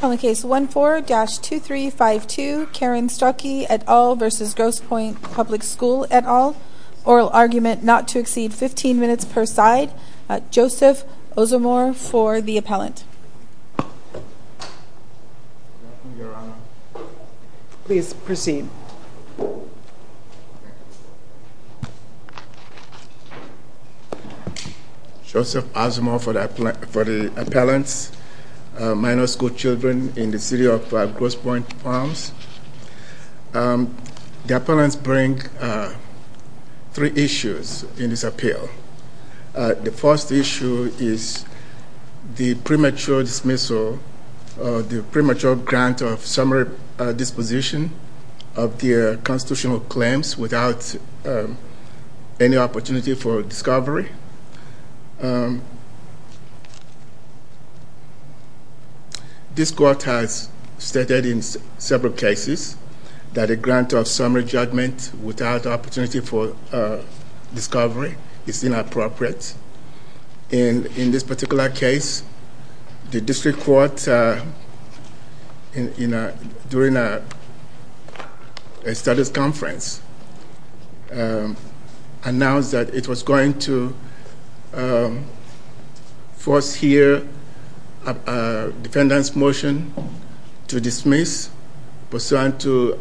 On the case 14-2352, Karen Strehlke et al. v. Grosse Pointe Public School et al. Oral argument not to exceed 15 minutes per side. Joseph Osamor for the appellant. Please proceed. Joseph Osamor for the appellant, minor school children in the city of Grosse Pointe Farms. The appellants bring three issues in this appeal. The first issue is the premature dismissal or the premature grant of summary disposition of the constitutional claims without any opportunity for discovery. This court has stated in several cases that a grant of summary judgment without opportunity for discovery is inappropriate. In this particular case, the district court, during a studies conference, announced that it was going to force here a defendant's motion to dismiss pursuant to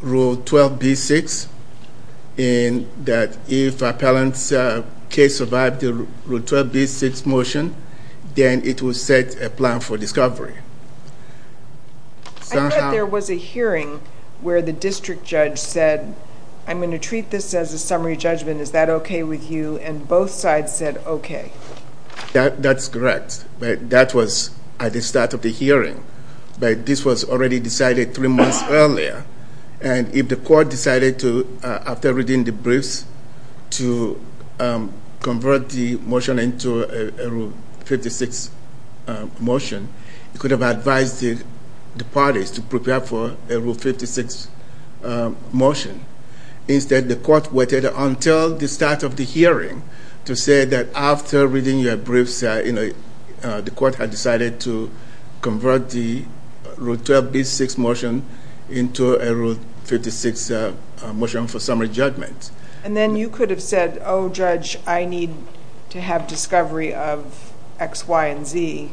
Rule 12b-6 in that if appellant's case survived the Rule 12b-6 motion, then it would set a plan for discovery. I heard there was a hearing where the district judge said, I'm going to treat this as a summary judgment. Is that okay with you? And both sides said okay. That's correct. But that was at the start of the hearing. But this was already decided three months earlier. And if the court decided to, after reading the briefs, to convert the motion into a Rule 56 motion, it could have advised the parties to prepare for a Rule 56 motion. Instead, the court waited until the start of the hearing to say that after reading your briefs, the court had decided to convert the Rule 12b-6 motion into a Rule 56 motion for summary judgment. And then you could have said, oh, Judge, I need to have discovery of X, Y, and Z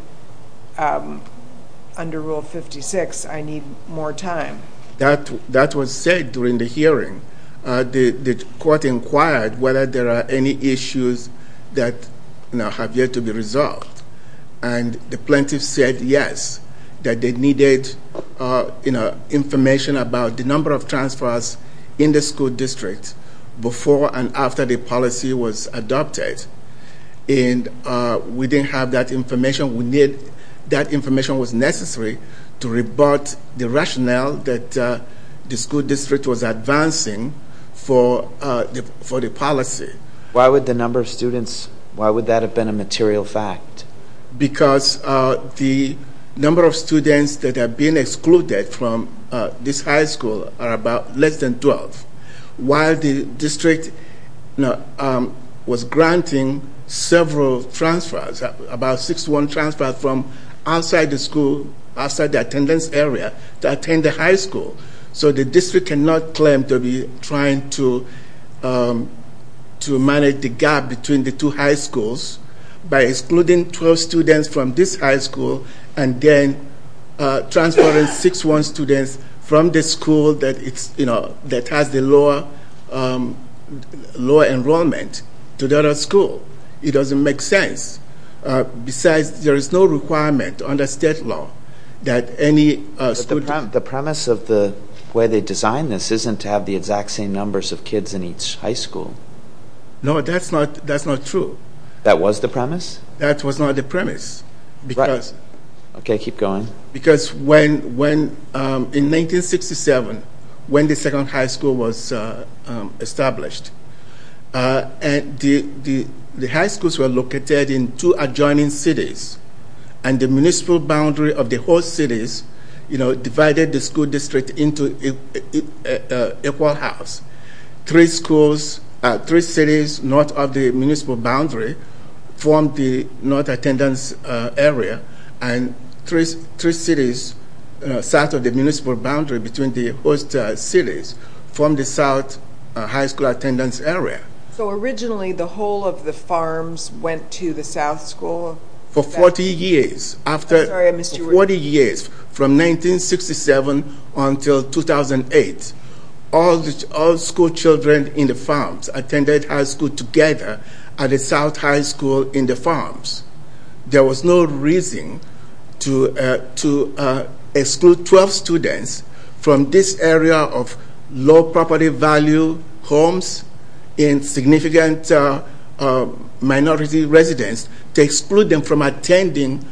under Rule 56. I need more time. That was said during the hearing. The court inquired whether there are any issues that have yet to be resolved. And the plaintiff said yes, that they needed information about the number of transfers in the school district before and after the policy was adopted. And we didn't have that information. That information was necessary to rebut the rationale that the school district was advancing for the policy. Why would the number of students, why would that have been a material fact? Because the number of students that have been excluded from this high school are about less than 12. While the district was granting several transfers, about 61 transfers from outside the school, outside the attendance area, to attend the high school. So the district cannot claim to be trying to manage the gap between the two high schools by excluding 12 students from this high school, and then transferring 61 students from the school that has the lower enrollment to the other school. It doesn't make sense. Besides, there is no requirement under state law that any school district... The premise of the way they designed this isn't to have the exact same numbers of kids in each high school. No, that's not true. That was the premise? That was not the premise. Right. Okay, keep going. Because in 1967, when the second high school was established, the high schools were located in two adjoining cities. And the municipal boundary of the host cities divided the school district into an equal house. Three cities north of the municipal boundary formed the north attendance area, and three cities south of the municipal boundary between the host cities formed the south high school attendance area. So originally, the whole of the farms went to the south school? For 40 years. I'm sorry, I missed you. For 40 years, from 1967 until 2008, all school children in the farms attended high school together at the south high school in the farms. There was no reason to exclude 12 students from this area of low property value homes in significant minority residence, to exclude them from attending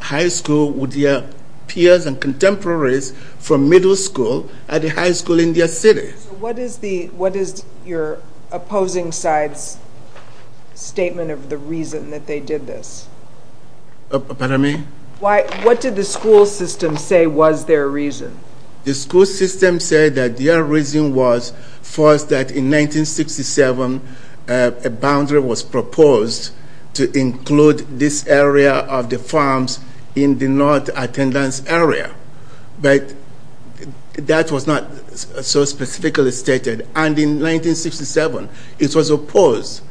high school with their peers and contemporaries from middle school at the high school in their city. What is your opposing side's statement of the reason that they did this? Pardon me? What did the school system say was their reason? The school system said that their reason was, first, that in 1967, a boundary was proposed to include this area of the farms in the north attendance area. But that was not so specifically stated. And in 1967, it was opposed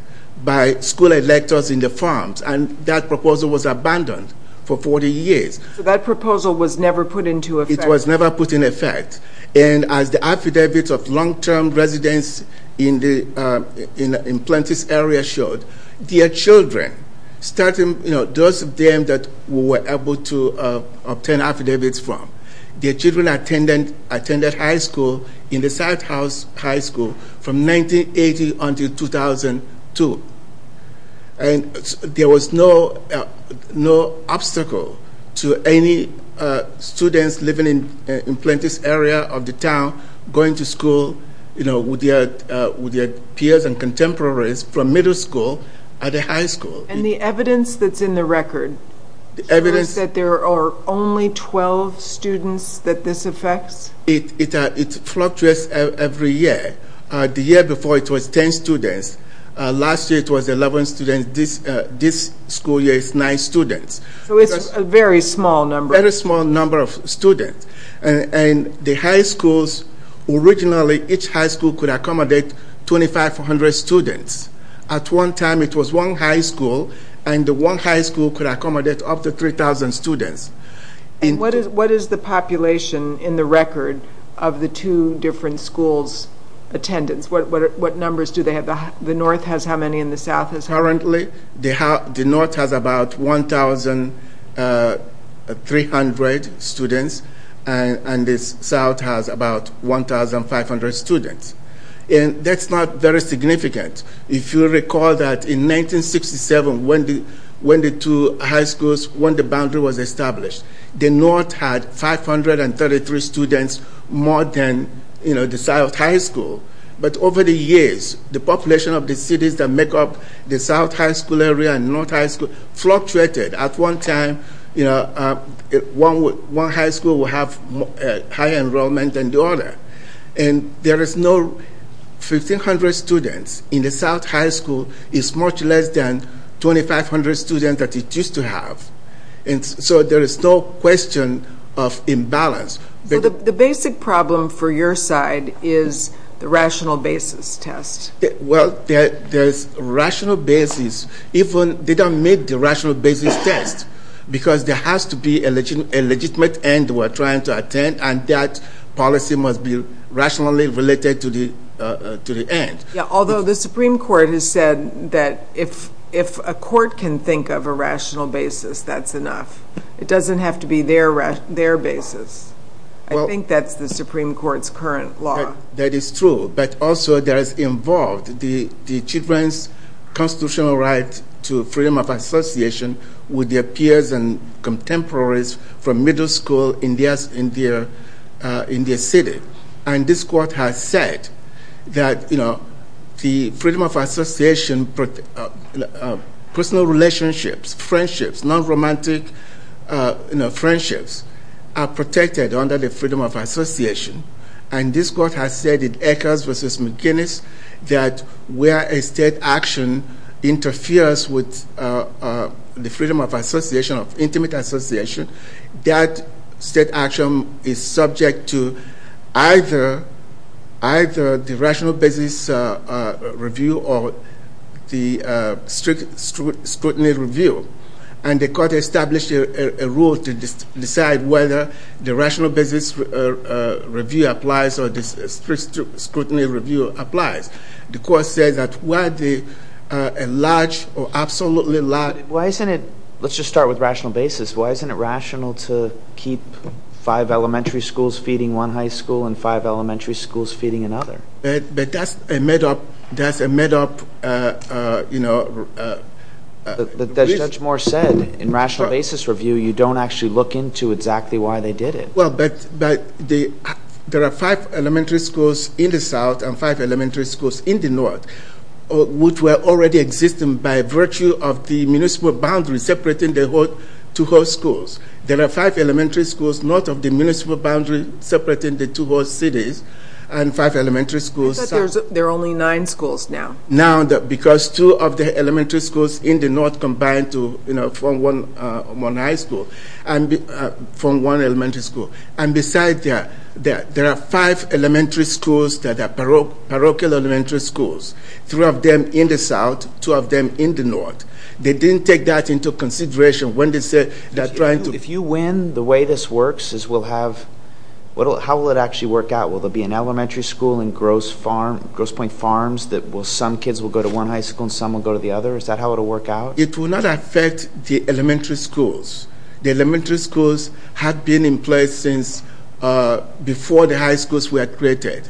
by school electors in the farms, and that proposal was abandoned for 40 years. So that proposal was never put into effect? It was never put into effect. And as the affidavits of long-term residents in the Plantis area showed, their children, those of them that we were able to obtain affidavits from, their children attended high school in the south high school from 1980 until 2002. And there was no obstacle to any students living in the Plantis area of the town going to school with their peers and contemporaries from middle school at a high school. And the evidence that's in the record shows that there are only 12 students that this affects? It fluctuates every year. The year before, it was 10 students. Last year, it was 11 students. This school year, it's 9 students. So it's a very small number. Very small number of students. And the high schools, originally, each high school could accommodate 2,500 students. At one time, it was one high school, and the one high school could accommodate up to 3,000 students. And what is the population in the record of the two different schools' attendance? What numbers do they have? The north has how many and the south has how many? Currently, the north has about 1,300 students, and the south has about 1,500 students. And that's not very significant. If you recall that in 1967, when the two high schools, when the boundary was established, the north had 533 students more than the south high school. But over the years, the population of the cities that make up the south high school area and north high school fluctuated. At one time, one high school would have higher enrollment than the other. And there is no 1,500 students in the south high school. It's much less than 2,500 students that it used to have. And so there is no question of imbalance. The basic problem for your side is the rational basis test. Well, there's rational basis. Even they don't make the rational basis test because there has to be a legitimate end we're trying to attend, and that policy must be rationally related to the end. Yeah, although the Supreme Court has said that if a court can think of a rational basis, that's enough. It doesn't have to be their basis. I think that's the Supreme Court's current law. That is true. But also, there is involved the children's constitutional right to freedom of association with their peers and contemporaries from middle school in their city. And this court has said that the freedom of association, personal relationships, friendships, non-romantic friendships are protected under the freedom of association. And this court has said in Eckers v. McGinnis that where a state action interferes with the freedom of association, of intimate association, that state action is subject to either the rational basis review or the strict scrutiny review. And the court established a rule to decide whether the rational basis review applies or the strict scrutiny review applies. The court says that where a large or absolutely large... Why isn't it... let's just start with rational basis. Why isn't it rational to keep five elementary schools feeding one high school and five elementary schools feeding another? But that's a made-up... As Judge Moore said, in rational basis review, you don't actually look into exactly why they did it. Well, but there are five elementary schools in the south and five elementary schools in the north, which were already existing by virtue of the municipal boundary separating the two whole schools. There are five elementary schools north of the municipal boundary separating the two whole cities, and five elementary schools south. But there are only nine schools now. Now, because two of the elementary schools in the north combine to form one high school and form one elementary school. And besides that, there are five elementary schools that are parochial elementary schools, three of them in the south, two of them in the north. They didn't take that into consideration when they said they're trying to... If you win, the way this works is we'll have... How will it actually work out? Will there be an elementary school in Grosse Pointe Farms that some kids will go to one high school and some will go to the other? Is that how it will work out? It will not affect the elementary schools. The elementary schools have been in place since before the high schools were created.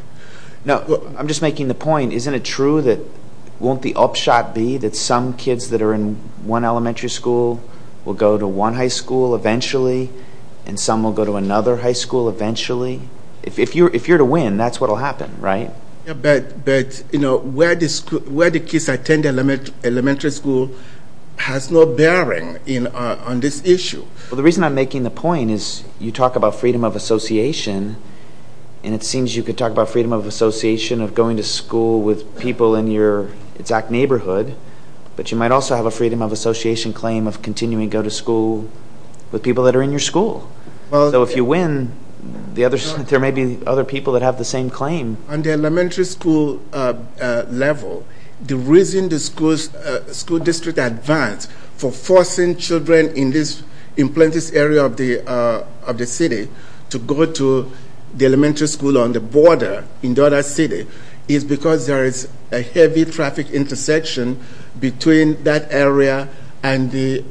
Now, I'm just making the point, isn't it true that... Won't the upshot be that some kids that are in one elementary school will go to one high school eventually and some will go to another high school eventually? If you're to win, that's what will happen, right? But, you know, where the kids attend elementary school has no bearing on this issue. Well, the reason I'm making the point is you talk about freedom of association and it seems you could talk about freedom of association of going to school with people in your exact neighborhood, but you might also have a freedom of association claim of continuing to go to school with people that are in your school. So if you win, there may be other people that have the same claim. On the elementary school level, the reason the school district advance for forcing children in this area of the city to go to the elementary school on the border in the other city is because there is a heavy traffic intersection between that area and the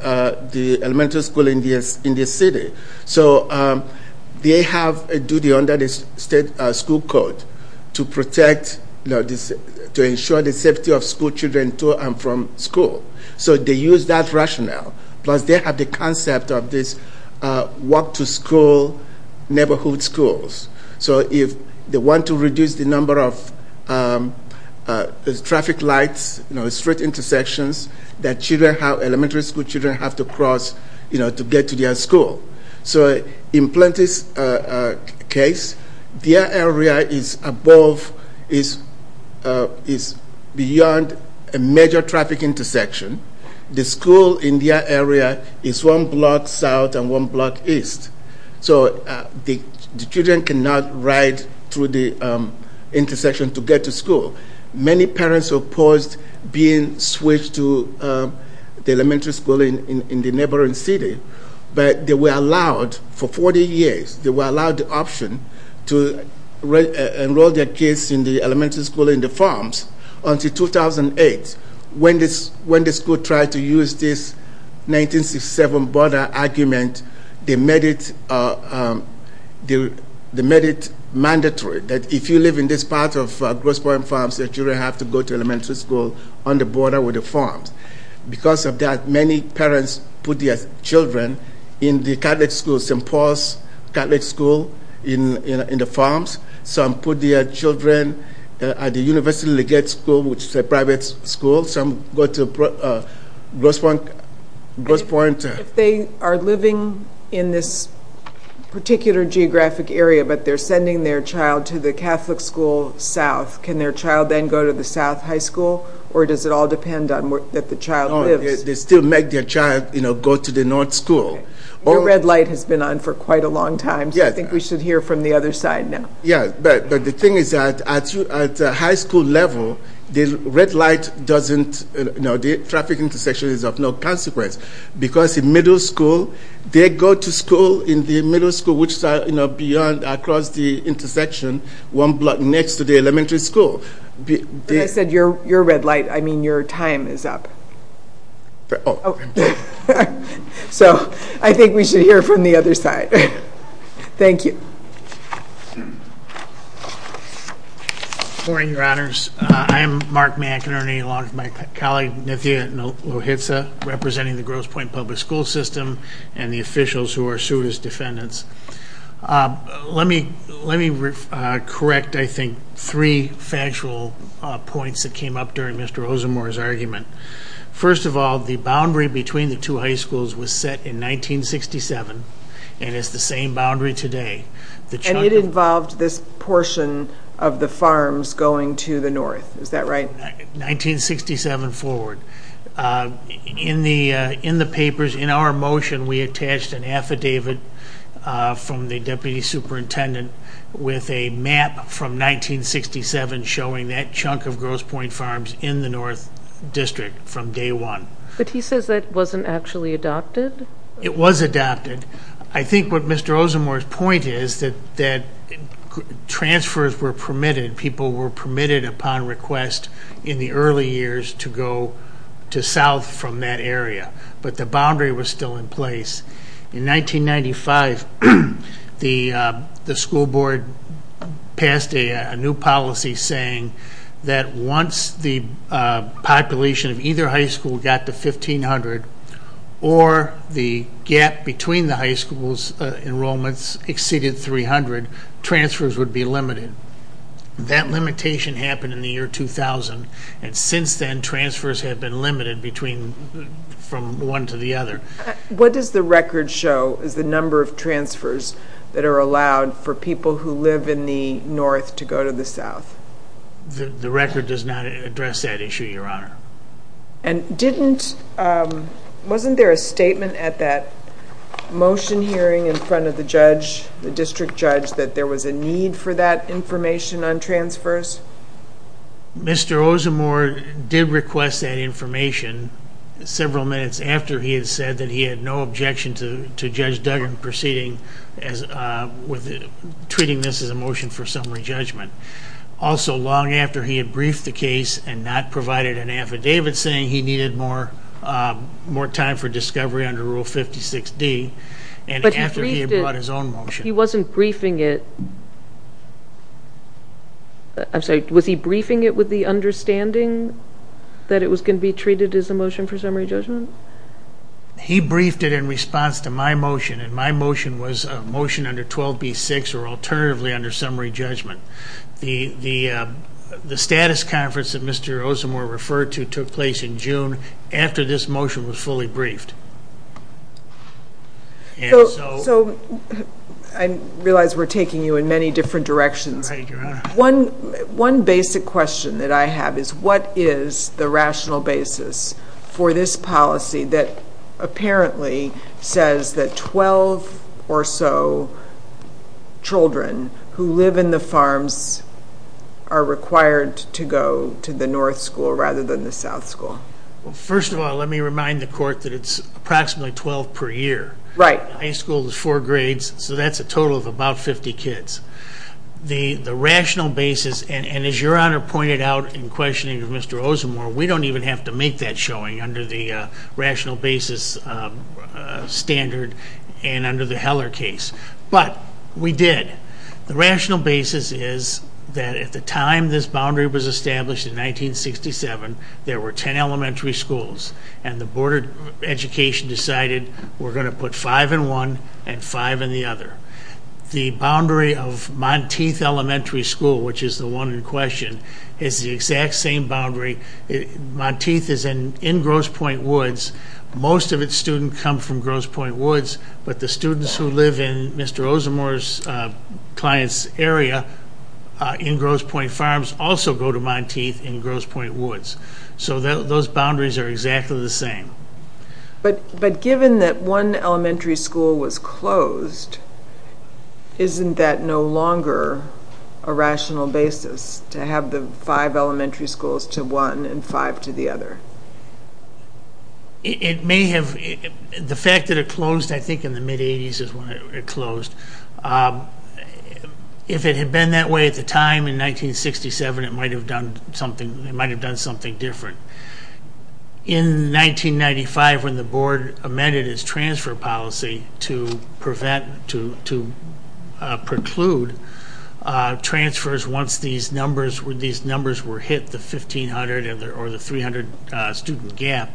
elementary school in the city. So they have a duty under the state school code to ensure the safety of school children to and from school. So they use that rationale. Plus they have the concept of this walk-to-school neighborhood schools. So if they want to reduce the number of traffic lights, you know, street intersections that elementary school children have to cross to get to their school. So in Plenty's case, their area is beyond a major traffic intersection. The school in their area is one block south and one block east. So the children cannot ride through the intersection to get to school. Many parents opposed being switched to the elementary school in the neighboring city, but they were allowed for 40 years. They were allowed the option to enroll their kids in the elementary school in the farms until 2008. When the school tried to use this 1967 border argument, they made it mandatory that if you live in this part of Grosse Pointe Farms, your children have to go to elementary school on the border with the farms. Because of that, many parents put their children in the Catholic schools, St. Paul's Catholic School in the farms. Some put their children at the University of Lagarde School, which is a private school. Some go to Grosse Pointe. If they are living in this particular geographic area, but they're sending their child to the Catholic school south, can their child then go to the south high school, or does it all depend on where the child lives? They still make their child go to the north school. Your red light has been on for quite a long time, so I think we should hear from the other side now. Yeah, but the thing is that at the high school level, the traffic intersection is of no consequence. Because in middle school, they go to school in the middle school, which is beyond, across the intersection, one block next to the elementary school. But I said your red light, I mean your time is up. Oh. So I think we should hear from the other side. Thank you. Good morning, Your Honors. I am Mark McInerney, along with my colleague, Nithya Lohitsa, representing the Grosse Pointe Public School System and the officials who are sued as defendants. Let me correct, I think, three factual points that came up during Mr. Ozemore's argument. First of all, the boundary between the two high schools was set in 1967, and it's the same boundary today. And it involved this portion of the farms going to the north. Is that right? 1967 forward. In the papers, in our motion, we attached an affidavit from the deputy superintendent with a map from 1967 showing that chunk of Grosse Pointe farms in the north district from day one. But he says that wasn't actually adopted? It was adopted. I think what Mr. Ozemore's point is that transfers were permitted. People were permitted upon request in the early years to go to south from that area. But the boundary was still in place. In 1995, the school board passed a new policy saying that once the population of either high school got to 1,500 or the gap between the high school's enrollments exceeded 300, transfers would be limited. That limitation happened in the year 2000, and since then, transfers have been limited from one to the other. What does the record show is the number of transfers that are allowed for people who live in the north to go to the south? The record does not address that issue, Your Honor. And wasn't there a statement at that motion hearing in front of the judge, the district judge, that there was a need for that information on transfers? Mr. Ozemore did request that information several minutes after he had said that he had no objection to Judge Duggan proceeding with treating this as a motion for summary judgment. Also, long after he had briefed the case and not provided an affidavit saying he needed more time for discovery under Rule 56D, and after he had brought his own motion. He wasn't briefing it. I'm sorry, was he briefing it with the understanding that it was going to be treated as a motion for summary judgment? He briefed it in response to my motion, and my motion was a motion under 12B-6 or alternatively under summary judgment. The status conference that Mr. Ozemore referred to took place in June after this motion was fully briefed. So I realize we're taking you in many different directions. Right, Your Honor. One basic question that I have is what is the rational basis for this policy that apparently says that 12 or so children who live in the farms are required to go to the north school rather than the south school? First of all, let me remind the court that it's approximately 12 per year. Right. High school is four grades, so that's a total of about 50 kids. The rational basis, and as Your Honor pointed out in questioning of Mr. Ozemore, we don't even have to make that showing under the rational basis standard and under the Heller case. But we did. The rational basis is that at the time this boundary was established in 1967, there were 10 elementary schools, and the Board of Education decided we're going to put five in one and five in the other. The boundary of Monteith Elementary School, which is the one in question, is the exact same boundary. Monteith is in Grosse Pointe Woods. Most of its students come from Grosse Pointe Woods, but the students who live in Mr. Ozemore's client's area in Grosse Pointe Farms also go to Monteith in Grosse Pointe Woods. So those boundaries are exactly the same. But given that one elementary school was closed, isn't that no longer a rational basis to have the five elementary schools to one and five to the other? It may have. The fact that it closed, I think, in the mid-'80s is when it closed. If it had been that way at the time in 1967, it might have done something different. In 1995, when the board amended its transfer policy to preclude transfers once these numbers were hit, the 1,500 or the 300 student gap,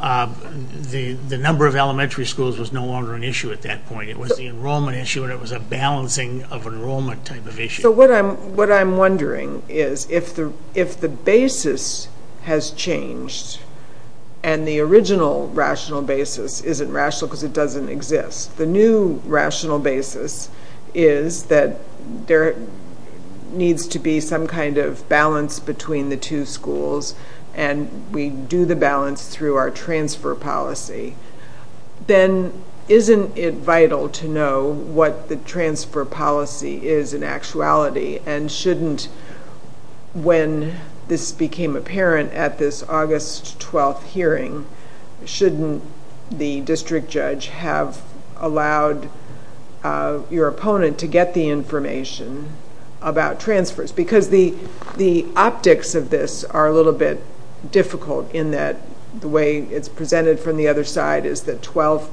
the number of elementary schools was no longer an issue at that point. It was the enrollment issue, and it was a balancing of enrollment type of issue. So what I'm wondering is, if the basis has changed, and the original rational basis isn't rational because it doesn't exist, the new rational basis is that there needs to be some kind of balance between the two schools, and we do the balance through our transfer policy, then isn't it vital to know what the transfer policy is in actuality? And shouldn't, when this became apparent at this August 12th hearing, shouldn't the district judge have allowed your opponent to get the information about transfers? Because the optics of this are a little bit difficult in that the way it's presented from the other side is that 12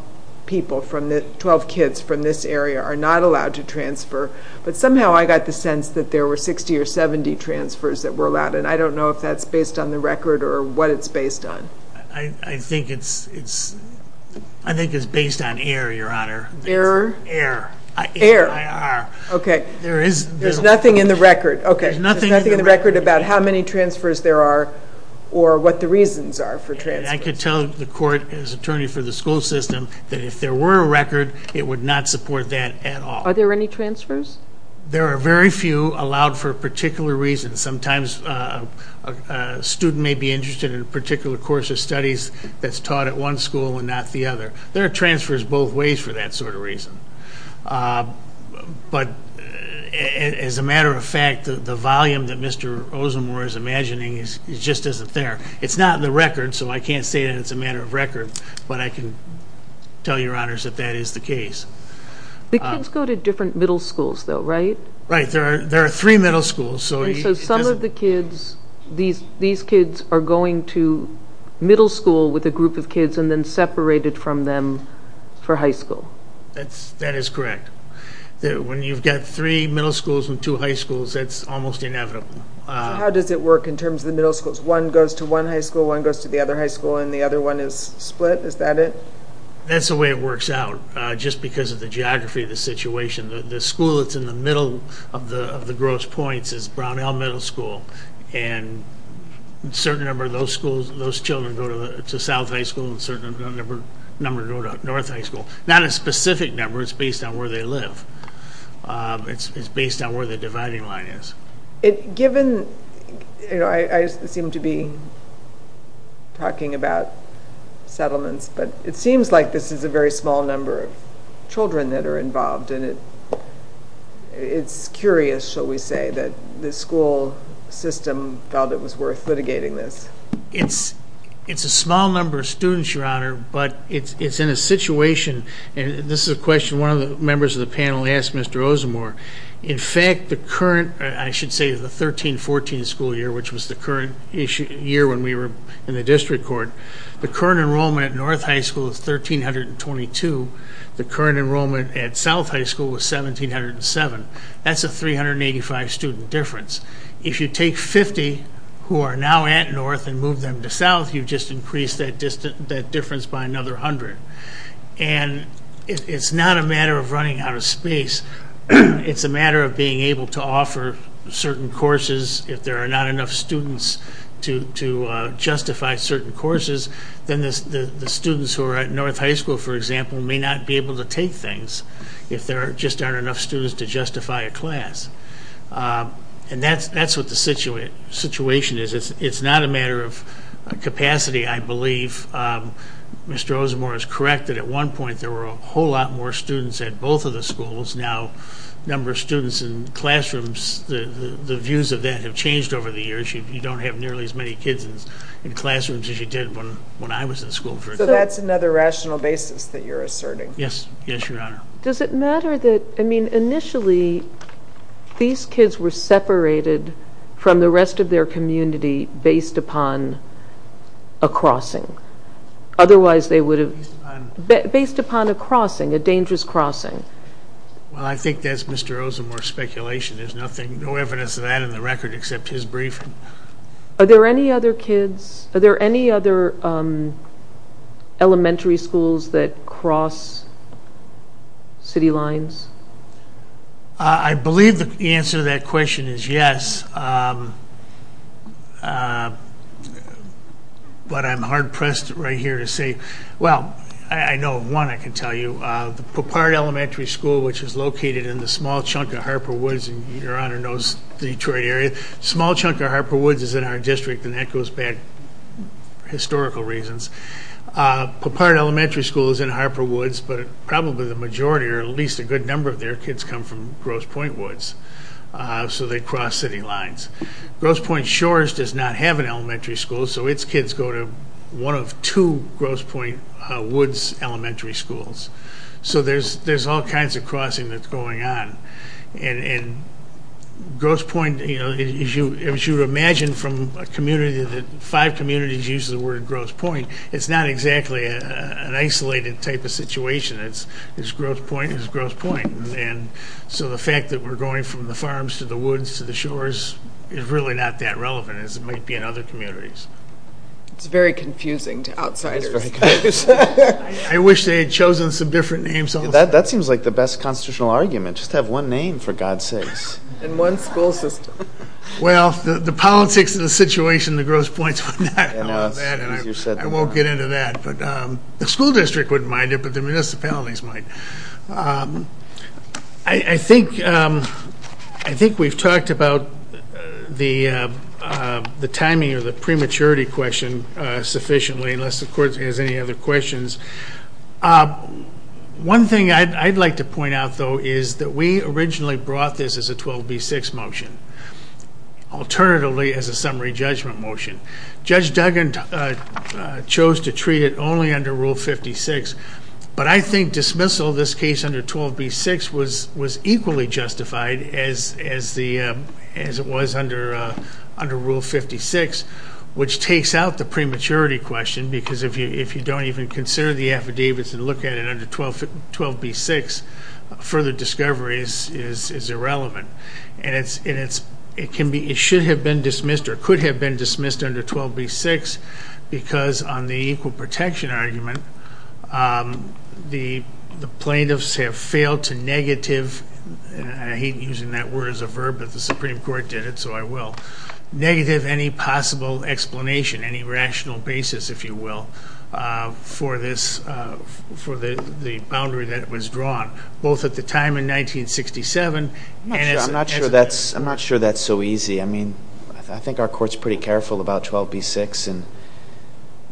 kids from this area are not allowed to transfer. But somehow I got the sense that there were 60 or 70 transfers that were allowed, and I don't know if that's based on the record or what it's based on. I think it's based on error, Your Honor. Error? Error. Error. Okay. There's nothing in the record. Okay. There's nothing in the record about how many transfers there are or what the reasons are for transfers. I can tell the court as attorney for the school system that if there were a record, it would not support that at all. Are there any transfers? There are very few allowed for a particular reason. Sometimes a student may be interested in a particular course of studies that's taught at one school and not the other. There are transfers both ways for that sort of reason. But as a matter of fact, the volume that Mr. Osamor is imagining just isn't there. It's not in the record, so I can't say that it's a matter of record, but I can tell Your Honors that that is the case. The kids go to different middle schools, though, right? Right. There are three middle schools. So some of the kids, these kids are going to middle school with a group of kids and then separated from them for high school. That is correct. When you've got three middle schools and two high schools, that's almost inevitable. How does it work in terms of the middle schools? One goes to one high school, one goes to the other high school, and the other one is split? Is that it? That's the way it works out, just because of the geography of the situation. The school that's in the middle of the gross points is Brownell Middle School, and a certain number of those children go to South High School and a certain number go to North High School. Not a specific number. It's based on where they live. It's based on where the dividing line is. I seem to be talking about settlements, but it seems like this is a very small number of children that are involved, and it's curious, shall we say, that the school system felt it was worth litigating this. It's a small number of students, Your Honor, but it's in a situation, and this is a question one of the members of the panel asked Mr. Ozemore. In fact, the current, I should say the 13-14 school year, which was the current year when we were in the district court, the current enrollment at North High School is 1,322. The current enrollment at South High School was 1,707. That's a 385-student difference. If you take 50 who are now at North and move them to South, you've just increased that difference by another 100. And it's not a matter of running out of space. It's a matter of being able to offer certain courses. If there are not enough students to justify certain courses, then the students who are at North High School, for example, may not be able to take things if there just aren't enough students to justify a class. And that's what the situation is. It's not a matter of capacity, I believe. Mr. Ozemore is correct that at one point there were a whole lot more students at both of the schools. Now, the number of students in classrooms, the views of that have changed over the years. You don't have nearly as many kids in classrooms as you did when I was in school. So that's another rational basis that you're asserting. Yes. Yes, Your Honor. Does it matter that, I mean, initially these kids were separated from the rest of their community based upon a crossing? Otherwise they would have... Based upon... Based upon a crossing, a dangerous crossing. Well, I think that's Mr. Ozemore's speculation. There's nothing, no evidence of that in the record except his briefing. Are there any other kids, are there any other elementary schools that cross city lines? I believe the answer to that question is yes. But I'm hard-pressed right here to say, well, I know of one I can tell you. The Popat Elementary School, which is located in the small chunk of Harper Woods, and Your Honor knows the Detroit area, small chunk of Harper Woods is in our district, and that goes back historical reasons. Popat Elementary School is in Harper Woods, but probably the majority or at least a good number of their kids come from Grosse Pointe Woods. So they cross city lines. Grosse Pointe Shores does not have an elementary school, so its kids go to one of two Grosse Pointe Woods elementary schools. So there's all kinds of crossing that's going on. And Grosse Pointe, as you would imagine from a community that five communities use the word Grosse Pointe, it's not exactly an isolated type of situation. It's Grosse Pointe is Grosse Pointe. And so the fact that we're going from the farms to the woods to the shores is really not that relevant as it might be in other communities. It's very confusing to outsiders. I wish they had chosen some different names also. That seems like the best constitutional argument, just have one name for God's sakes. And one school system. Well, the politics of the situation in Grosse Pointe is not going to allow that, and I won't get into that. The school district wouldn't mind it, but the municipalities might. I think we've talked about the timing or the prematurity question sufficiently, unless the court has any other questions. One thing I'd like to point out, though, is that we originally brought this as a 12B6 motion, alternatively as a summary judgment motion. Judge Duggan chose to treat it only under Rule 56, but I think dismissal of this case under 12B6 was equally justified as it was under Rule 56, which takes out the prematurity question, because if you don't even consider the affidavits and look at it under 12B6, further discovery is irrelevant. And it should have been dismissed or could have been dismissed under 12B6 because on the equal protection argument, the plaintiffs have failed to negative, and I hate using that word as a verb, but the Supreme Court did it, so I will, negative any possible explanation, any rational basis, if you will, for the boundary that was drawn, both at the time in 1967 and as of today. I'm not sure that's so easy. I mean, I think our court's pretty careful about 12B6 and,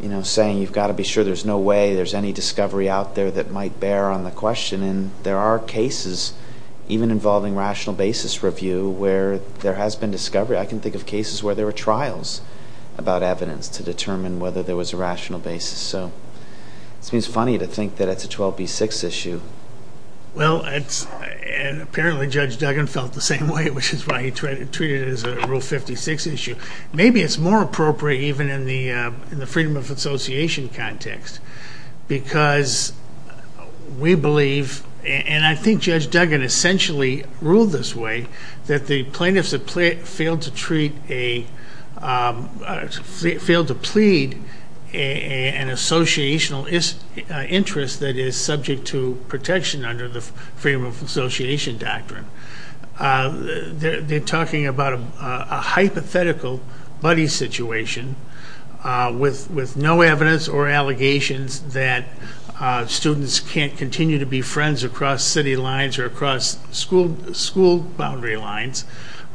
you know, saying you've got to be sure there's no way there's any discovery out there that might bear on the question, and there are cases, even involving rational basis review, where there has been discovery. I can think of cases where there were trials about evidence to determine whether there was a rational basis. So it seems funny to think that it's a 12B6 issue. Well, and apparently Judge Duggan felt the same way, which is why he treated it as a Rule 56 issue. Maybe it's more appropriate even in the freedom of association context because we believe, and I think Judge Duggan essentially ruled this way, that the plaintiffs have failed to treat a, failed to plead an associational interest that is subject to protection under the freedom of association doctrine. They're talking about a hypothetical buddy situation with no evidence or allegations that students can't continue to be friends across city lines or across school boundary lines.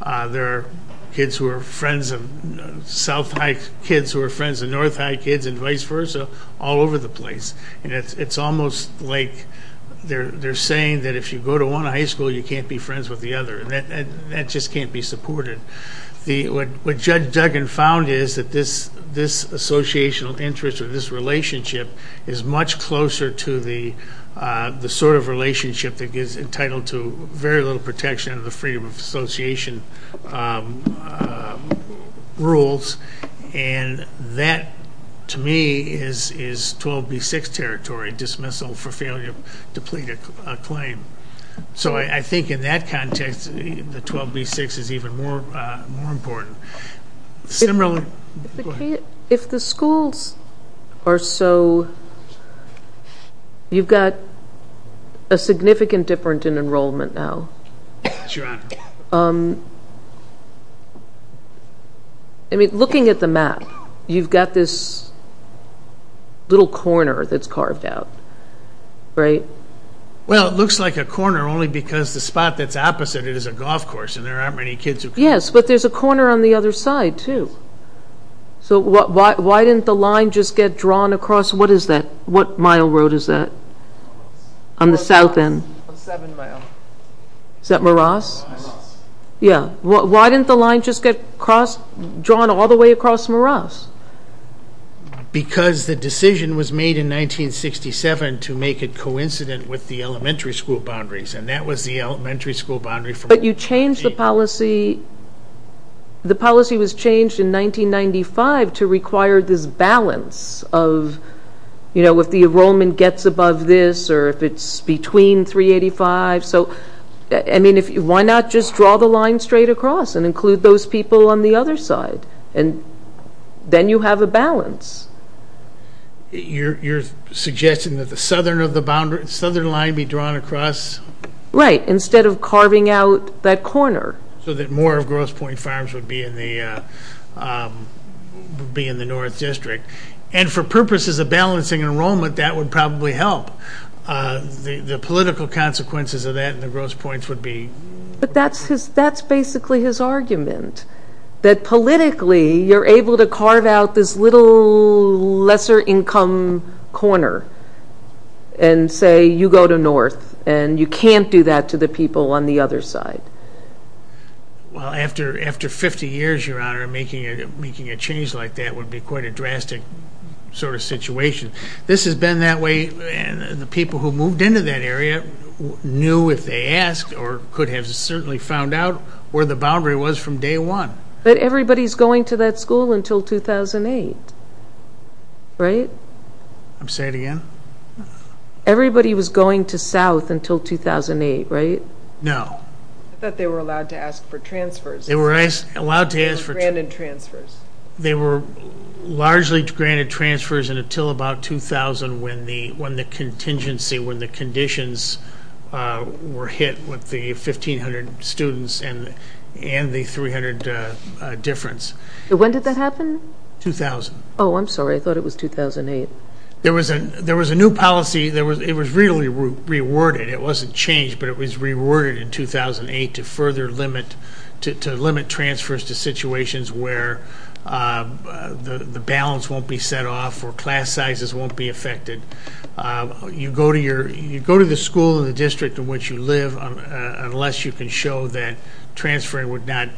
There are kids who are friends of South High kids who are friends of North High kids and vice versa all over the place. And it's almost like they're saying that if you go to one high school, you can't be friends with the other, and that just can't be supported. What Judge Duggan found is that this associational interest or this relationship is much closer to the sort of relationship that is entitled to very little protection under the freedom of association rules. And that, to me, is 12B6 territory, dismissal for failure to plead a claim. So I think in that context, the 12B6 is even more important. If the schools are so, you've got a significant difference in enrollment now. Yes, Your Honor. I mean, looking at the map, you've got this little corner that's carved out, right? Well, it looks like a corner only because the spot that's opposite it is a golf course, and there aren't many kids. Yes, but there's a corner on the other side, too. So why didn't the line just get drawn across? What is that? What mile road is that on the south end? Seven mile. Is that Moross? Yeah. Why didn't the line just get drawn all the way across Moross? Because the decision was made in 1967 to make it coincident with the elementary school boundaries, and that was the elementary school boundary. But you changed the policy. The policy was changed in 1995 to require this balance of, you know, if the enrollment gets above this or if it's between 385. So, I mean, why not just draw the line straight across and include those people on the other side? And then you have a balance. You're suggesting that the southern line be drawn across? Right, instead of carving out that corner. So that more of Grosse Pointe Farms would be in the north district. And for purposes of balancing enrollment, that would probably help. The political consequences of that in the Grosse Pointe would be? But that's basically his argument, that politically you're able to carve out this little lesser income corner and say you go to north and you can't do that to the people on the other side. Well, after 50 years, Your Honor, making a change like that would be quite a drastic sort of situation. This has been that way, and the people who moved into that area knew if they asked or could have certainly found out where the boundary was from day one. But everybody's going to that school until 2008, right? Say it again? Everybody was going to south until 2008, right? No. I thought they were allowed to ask for transfers. They were allowed to ask for transfers. They were granted transfers. They were largely granted transfers until about 2000 when the contingency, when the conditions were hit with the 1,500 students and the 300 difference. When did that happen? 2000. Oh, I'm sorry. I thought it was 2008. There was a new policy. It was really reworded. It wasn't changed, but it was reworded in 2008 to further limit transfers to situations where the balance won't be set off or class sizes won't be affected. You go to the school in the district in which you live unless you can show that transferring would not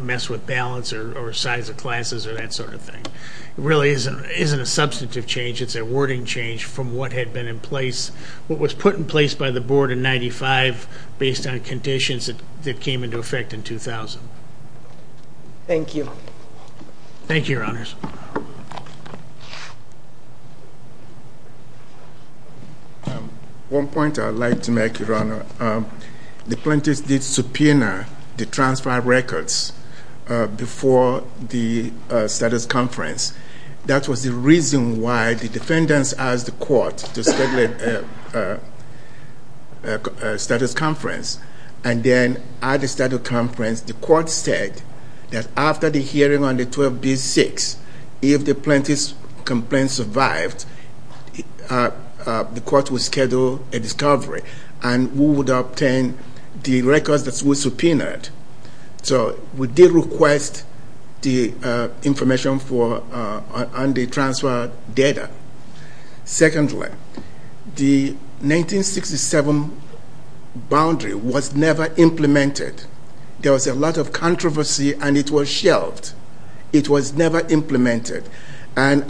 mess with balance or size of classes or that sort of thing. It really isn't a substantive change. It's a wording change from what had been in place. What was put in place by the board in 1995 based on conditions that came into effect in 2000. Thank you. Thank you, Your Honors. One point I'd like to make, Your Honor. The plaintiffs did subpoena the transfer records before the status conference. That was the reason why the defendants asked the court to schedule a status conference. And then at the status conference, the court said that after the hearing on the 12-B-6, if the plaintiff's complaint survived, the court would schedule a discovery and we would obtain the records that we subpoenaed. So we did request the information on the transfer data. Secondly, the 1967 boundary was never implemented. There was a lot of controversy and it was shelved. It was never implemented. When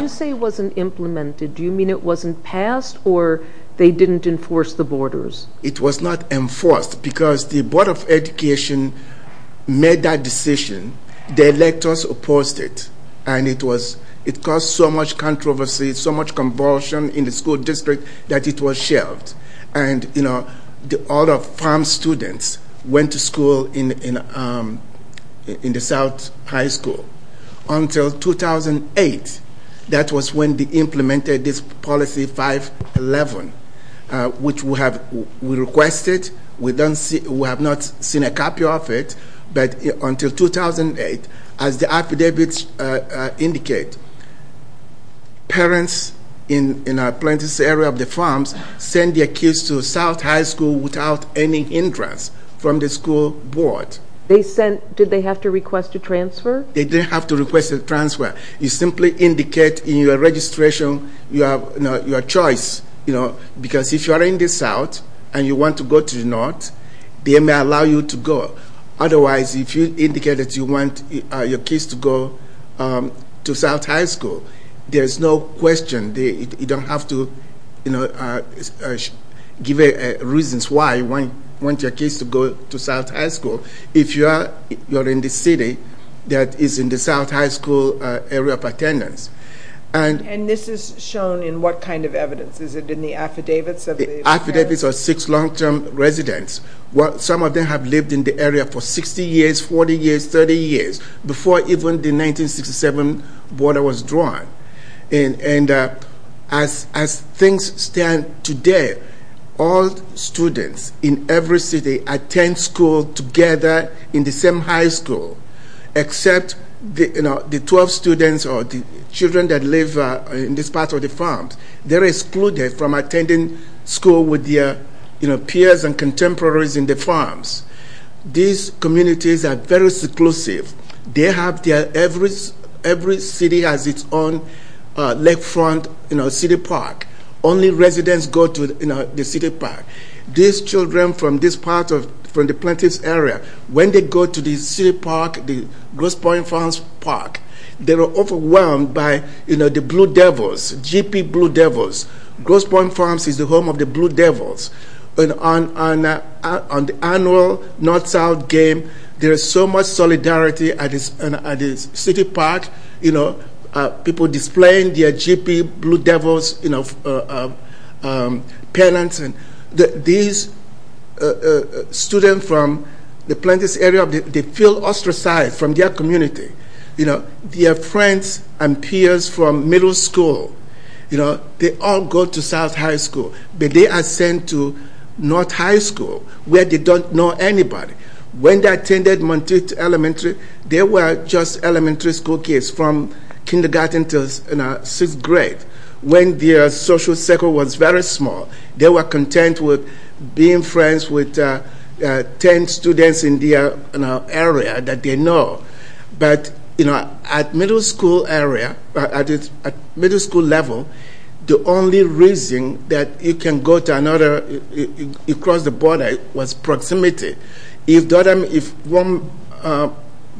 you say it wasn't implemented, do you mean it wasn't passed or they didn't enforce the borders? It was not enforced because the Board of Education made that decision. The electors opposed it. And it caused so much controversy, so much convulsion in the school district that it was shelved. And, you know, all the farm students went to school in the South High School. Until 2008, that was when they implemented this policy 5-11, which we requested. We have not seen a copy of it. But until 2008, as the affidavits indicate, parents in our plaintiff's area of the farms sent their kids to South High School without any hindrance from the school board. Did they have to request a transfer? They didn't have to request a transfer. You simply indicate in your registration your choice. Because if you are in the South and you want to go to the North, they may allow you to go. Otherwise, if you indicate that you want your kids to go to South High School, there is no question. You don't have to give reasons why you want your kids to go to South High School if you are in the city that is in the South High School area of attendance. And this is shown in what kind of evidence? Is it in the affidavits of the parents? Affidavits of six long-term residents. Some of them have lived in the area for 60 years, 40 years, 30 years, before even the 1967 border was drawn. And as things stand today, all students in every city attend school together in the same high school except the 12 students or the children that live in this part of the farms. They're excluded from attending school with their peers and contemporaries in the farms. These communities are very seclusive. They have their every city has its own lakefront city park. Only residents go to the city park. These children from this part of the plaintiff's area, when they go to the city park, the Grosse Pointe Farms Park, they are overwhelmed by the Blue Devils, GP Blue Devils. Grosse Pointe Farms is the home of the Blue Devils. On the annual North-South game, there is so much solidarity at the city park. People displaying their GP Blue Devils pennants. These students from the plaintiff's area, they feel ostracized from their community. Their friends and peers from middle school, they all go to South High School. But they are sent to North High School where they don't know anybody. When they attended Monteith Elementary, they were just elementary school kids from kindergarten to sixth grade. When their social circle was very small, they were content with being friends with 10 students in their area that they know. At middle school level, the only reason that you can go across the border was proximity. If one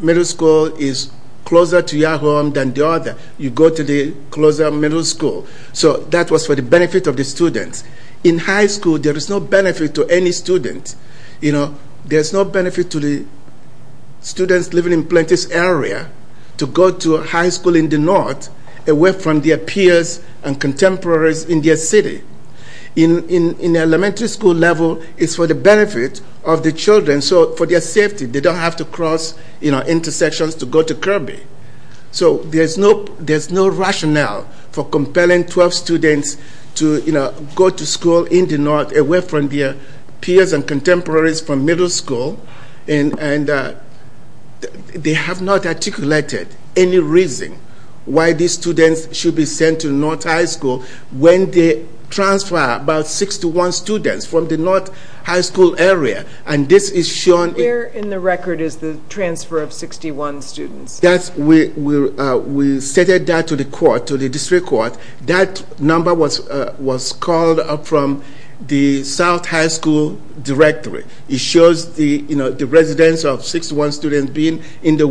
middle school is closer to your home than the other, you go to the closer middle school. That was for the benefit of the students. In high school, there is no benefit to any student. There is no benefit to the students living in the plaintiff's area to go to high school in the north, away from their peers and contemporaries in their city. In elementary school level, it's for the benefit of the children, for their safety. They don't have to cross intersections to go to Kirby. There's no rationale for compelling 12 students to go to school in the north, away from their peers and contemporaries from middle school. They have not articulated any reason why these students should be sent to North High School when they transfer about 61 students from the North High School area. Where in the record is the transfer of 61 students? We stated that to the court, to the district court. That number was called up from the South High School directory. It shows the residents of 61 students being in the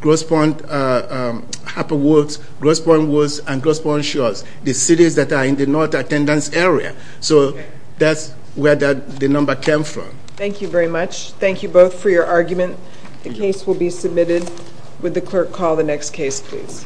Grosse Pointe, Harper Woods, Grosse Pointe Woods, and Grosse Pointe Shores, the cities that are in the North attendance area. So that's where the number came from. Thank you very much. Thank you both for your argument. The case will be submitted. Would the clerk call the next case, please?